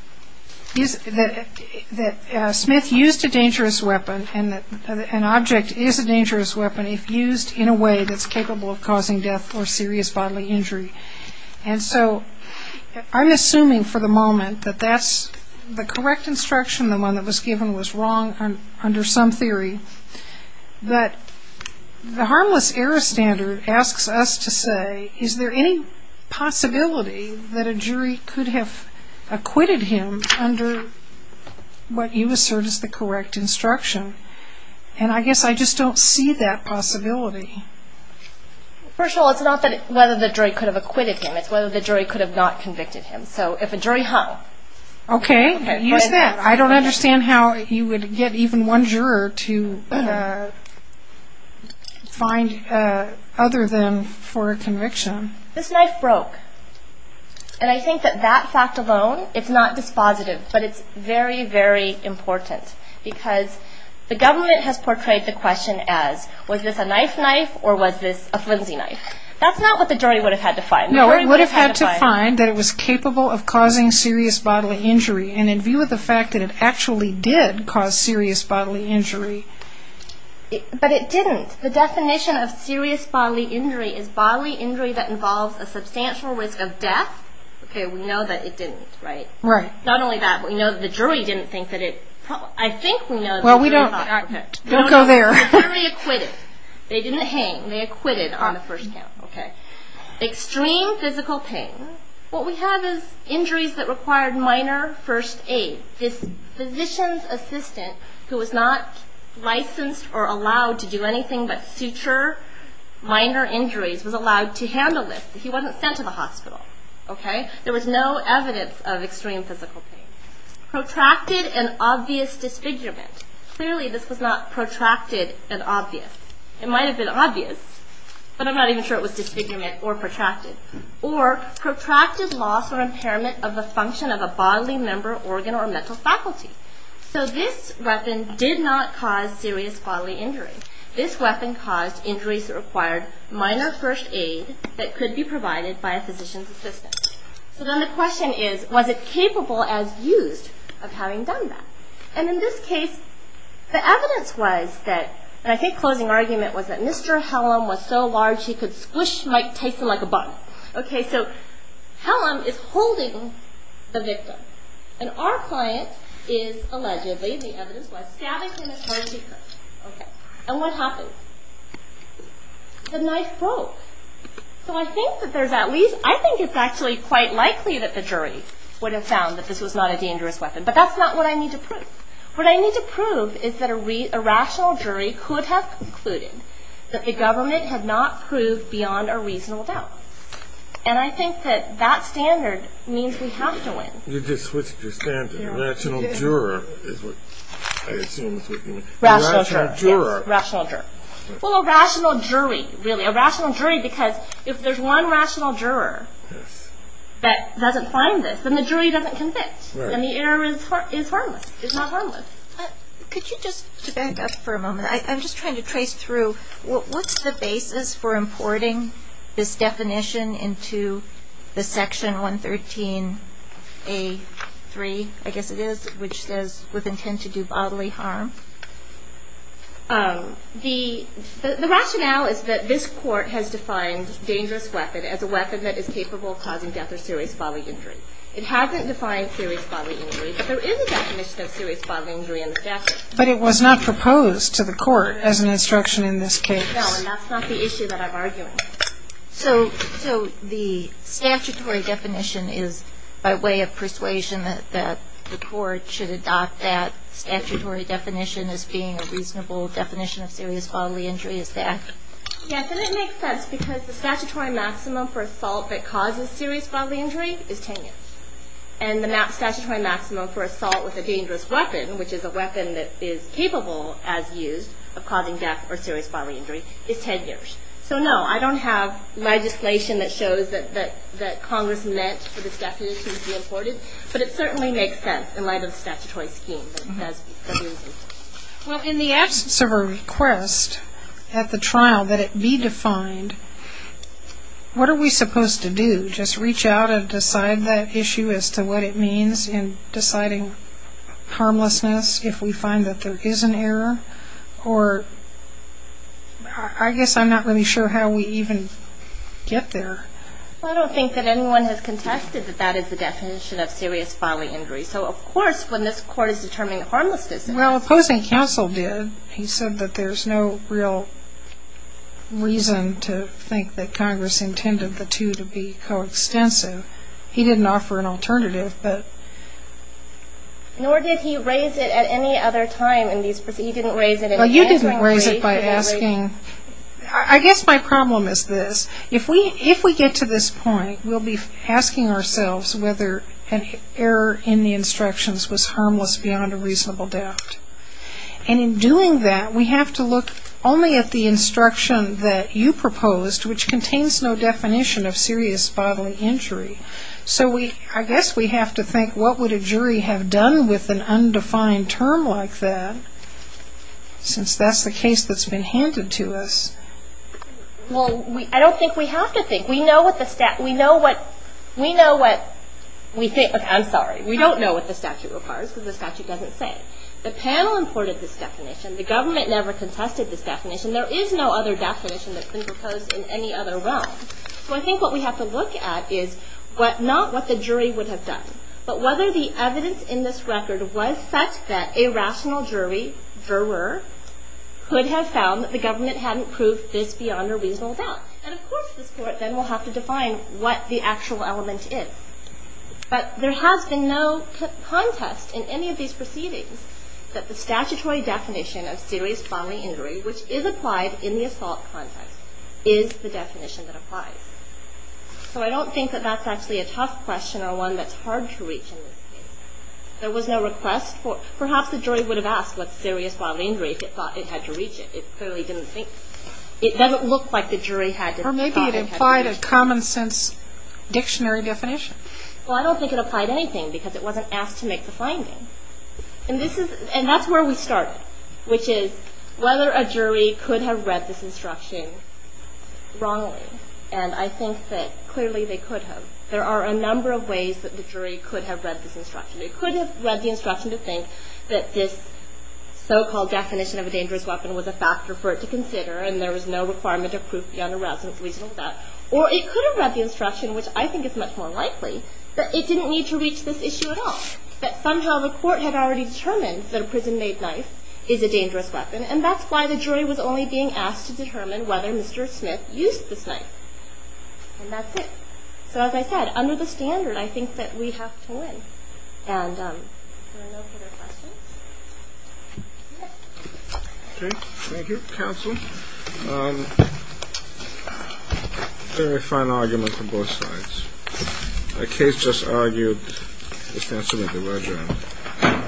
that Smith used a dangerous weapon and that an object is a dangerous weapon if used in a way that's capable of causing death or serious bodily injury. And so I'm assuming for the moment that that's the correct instruction, the one that was given was wrong under some theory. But the harmless error standard asks us to say, is there any possibility that a jury could have acquitted him under what you assert is the correct instruction? And I guess I just don't see that possibility. First of all, it's not whether the jury could have acquitted him. It's whether the jury could have not convicted him. So if a jury – how? Okay. Use that. I don't understand how you would get even one juror to find other than for a conviction. This knife broke. And I think that that fact alone, it's not dispositive. But it's very, very important because the government has portrayed the question as, was this a knife knife or was this a flimsy knife? That's not what the jury would have had to find. No, it would have had to find that it was capable of causing serious bodily injury and in view of the fact that it actually did cause serious bodily injury. But it didn't. The definition of serious bodily injury is bodily injury that involves a substantial risk of death. Okay, we know that it didn't, right? Right. Not only that, we know that the jury didn't think that it – I think we know that the jury thought – Well, we don't – don't go there. The jury acquitted. They didn't hang. They acquitted on the first count. Okay. Extreme physical pain. What we have is injuries that required minor first aid. This physician's assistant who was not licensed or allowed to do anything but suture minor injuries was allowed to handle this. He wasn't sent to the hospital. Okay. There was no evidence of extreme physical pain. Protracted and obvious disfigurement. Clearly this was not protracted and obvious. It might have been obvious, but I'm not even sure it was disfigurement or protracted. Or protracted loss or impairment of the function of a bodily member, organ, or mental faculty. So this weapon did not cause serious bodily injury. This weapon caused injuries that required minor first aid that could be provided by a physician's assistant. So then the question is, was it capable as used of having done that? And in this case, the evidence was that, and I think closing argument was that Mr. Hellam was so large he could squish Mike Tyson like a bug. Okay, so Hellam is holding the victim. And our client is allegedly, the evidence was, stabbing him as hard as he could. Okay. And what happened? The knife broke. So I think that there's at least, I think it's actually quite likely that the jury would have found that this was not a dangerous weapon. But that's not what I need to prove. What I need to prove is that a rational jury could have concluded that the government had not proved beyond a reasonable doubt. And I think that that standard means we have to win. You just switched your standard. Rational juror is what I assume is what you mean. Rational juror. Rational juror. Yes, rational juror. Well, a rational jury, really. A rational jury because if there's one rational juror that doesn't find this, then the jury doesn't convict. And the error is harmless. It's not harmless. Could you just, to back up for a moment, I'm just trying to trace through, what's the basis for importing this definition into the section 113A3, I guess it is, which says, with intent to do bodily harm? The rationale is that this court has defined dangerous weapon as a weapon that is capable of causing death or serious bodily injury. It hasn't defined serious bodily injury, but there is a definition of serious bodily injury in the statute. But it was not proposed to the court as an instruction in this case. No, and that's not the issue that I'm arguing. So the statutory definition is by way of persuasion that the court should adopt that statutory definition as being a reasonable definition of serious bodily injury, is that? Yes, and it makes sense because the statutory maximum for assault that causes serious bodily injury is 10 years. And the statutory maximum for assault with a dangerous weapon, which is a weapon that is capable, as used, of causing death or serious bodily injury, is 10 years. So no, I don't have legislation that shows that Congress meant for this definition to be imported, but it certainly makes sense in light of the statutory scheme. Well, in the absence of a request at the trial that it be defined, what are we supposed to do? Just reach out and decide that issue as to what it means in deciding harmlessness if we find that there is an error? Or I guess I'm not really sure how we even get there. I don't think that anyone has contested that that is the definition of serious bodily injury. So, of course, when this court is determining harmlessness. Well, opposing counsel did. He said that there's no real reason to think that Congress intended the two to be coextensive. He didn't offer an alternative. Nor did he raise it at any other time in these proceedings. He didn't raise it. Well, you didn't raise it by asking. I guess my problem is this. If we get to this point, we'll be asking ourselves whether an error in the instructions was harmless beyond a reasonable doubt. And in doing that, we have to look only at the instruction that you proposed, which contains no definition of serious bodily injury. So I guess we have to think, what would a jury have done with an undefined term like that, since that's the case that's been handed to us? Well, I don't think we have to think. We know what the statute – we know what we think – okay, I'm sorry. We don't know what the statute requires because the statute doesn't say. The panel imported this definition. The government never contested this definition. There is no other definition that's been proposed in any other realm. So I think what we have to look at is not what the jury would have done, but whether the evidence in this record was such that a rational jury, could have found that the government hadn't proved this beyond a reasonable doubt. And of course this court then will have to define what the actual element is. But there has been no contest in any of these proceedings that the statutory definition of serious bodily injury, which is applied in the assault context, is the definition that applies. So I don't think that that's actually a tough question or one that's hard to reach in this case. There was no request for – perhaps the jury would have asked what serious bodily injury, if it thought it had to reach it. It clearly didn't think – it doesn't look like the jury had to – Or maybe it implied a common sense dictionary definition. Well, I don't think it applied anything because it wasn't asked to make the finding. And this is – and that's where we started, which is whether a jury could have read this instruction wrongly. And I think that clearly they could have. There are a number of ways that the jury could have read this instruction. It could have read the instruction to think that this so-called definition of a dangerous weapon was a factor for it to consider, and there was no requirement of proof beyond a reasonable doubt. Or it could have read the instruction, which I think is much more likely, that it didn't need to reach this issue at all. That somehow the court had already determined that a prison-made knife is a dangerous weapon, and that's why the jury was only being asked to determine whether Mr. Smith used this knife. And that's it. So, as I said, under the standard, I think that we have to win. And are there no further questions? Okay. Thank you, counsel. I'm going to make a final argument from both sides. The case just argued, it stands to reason,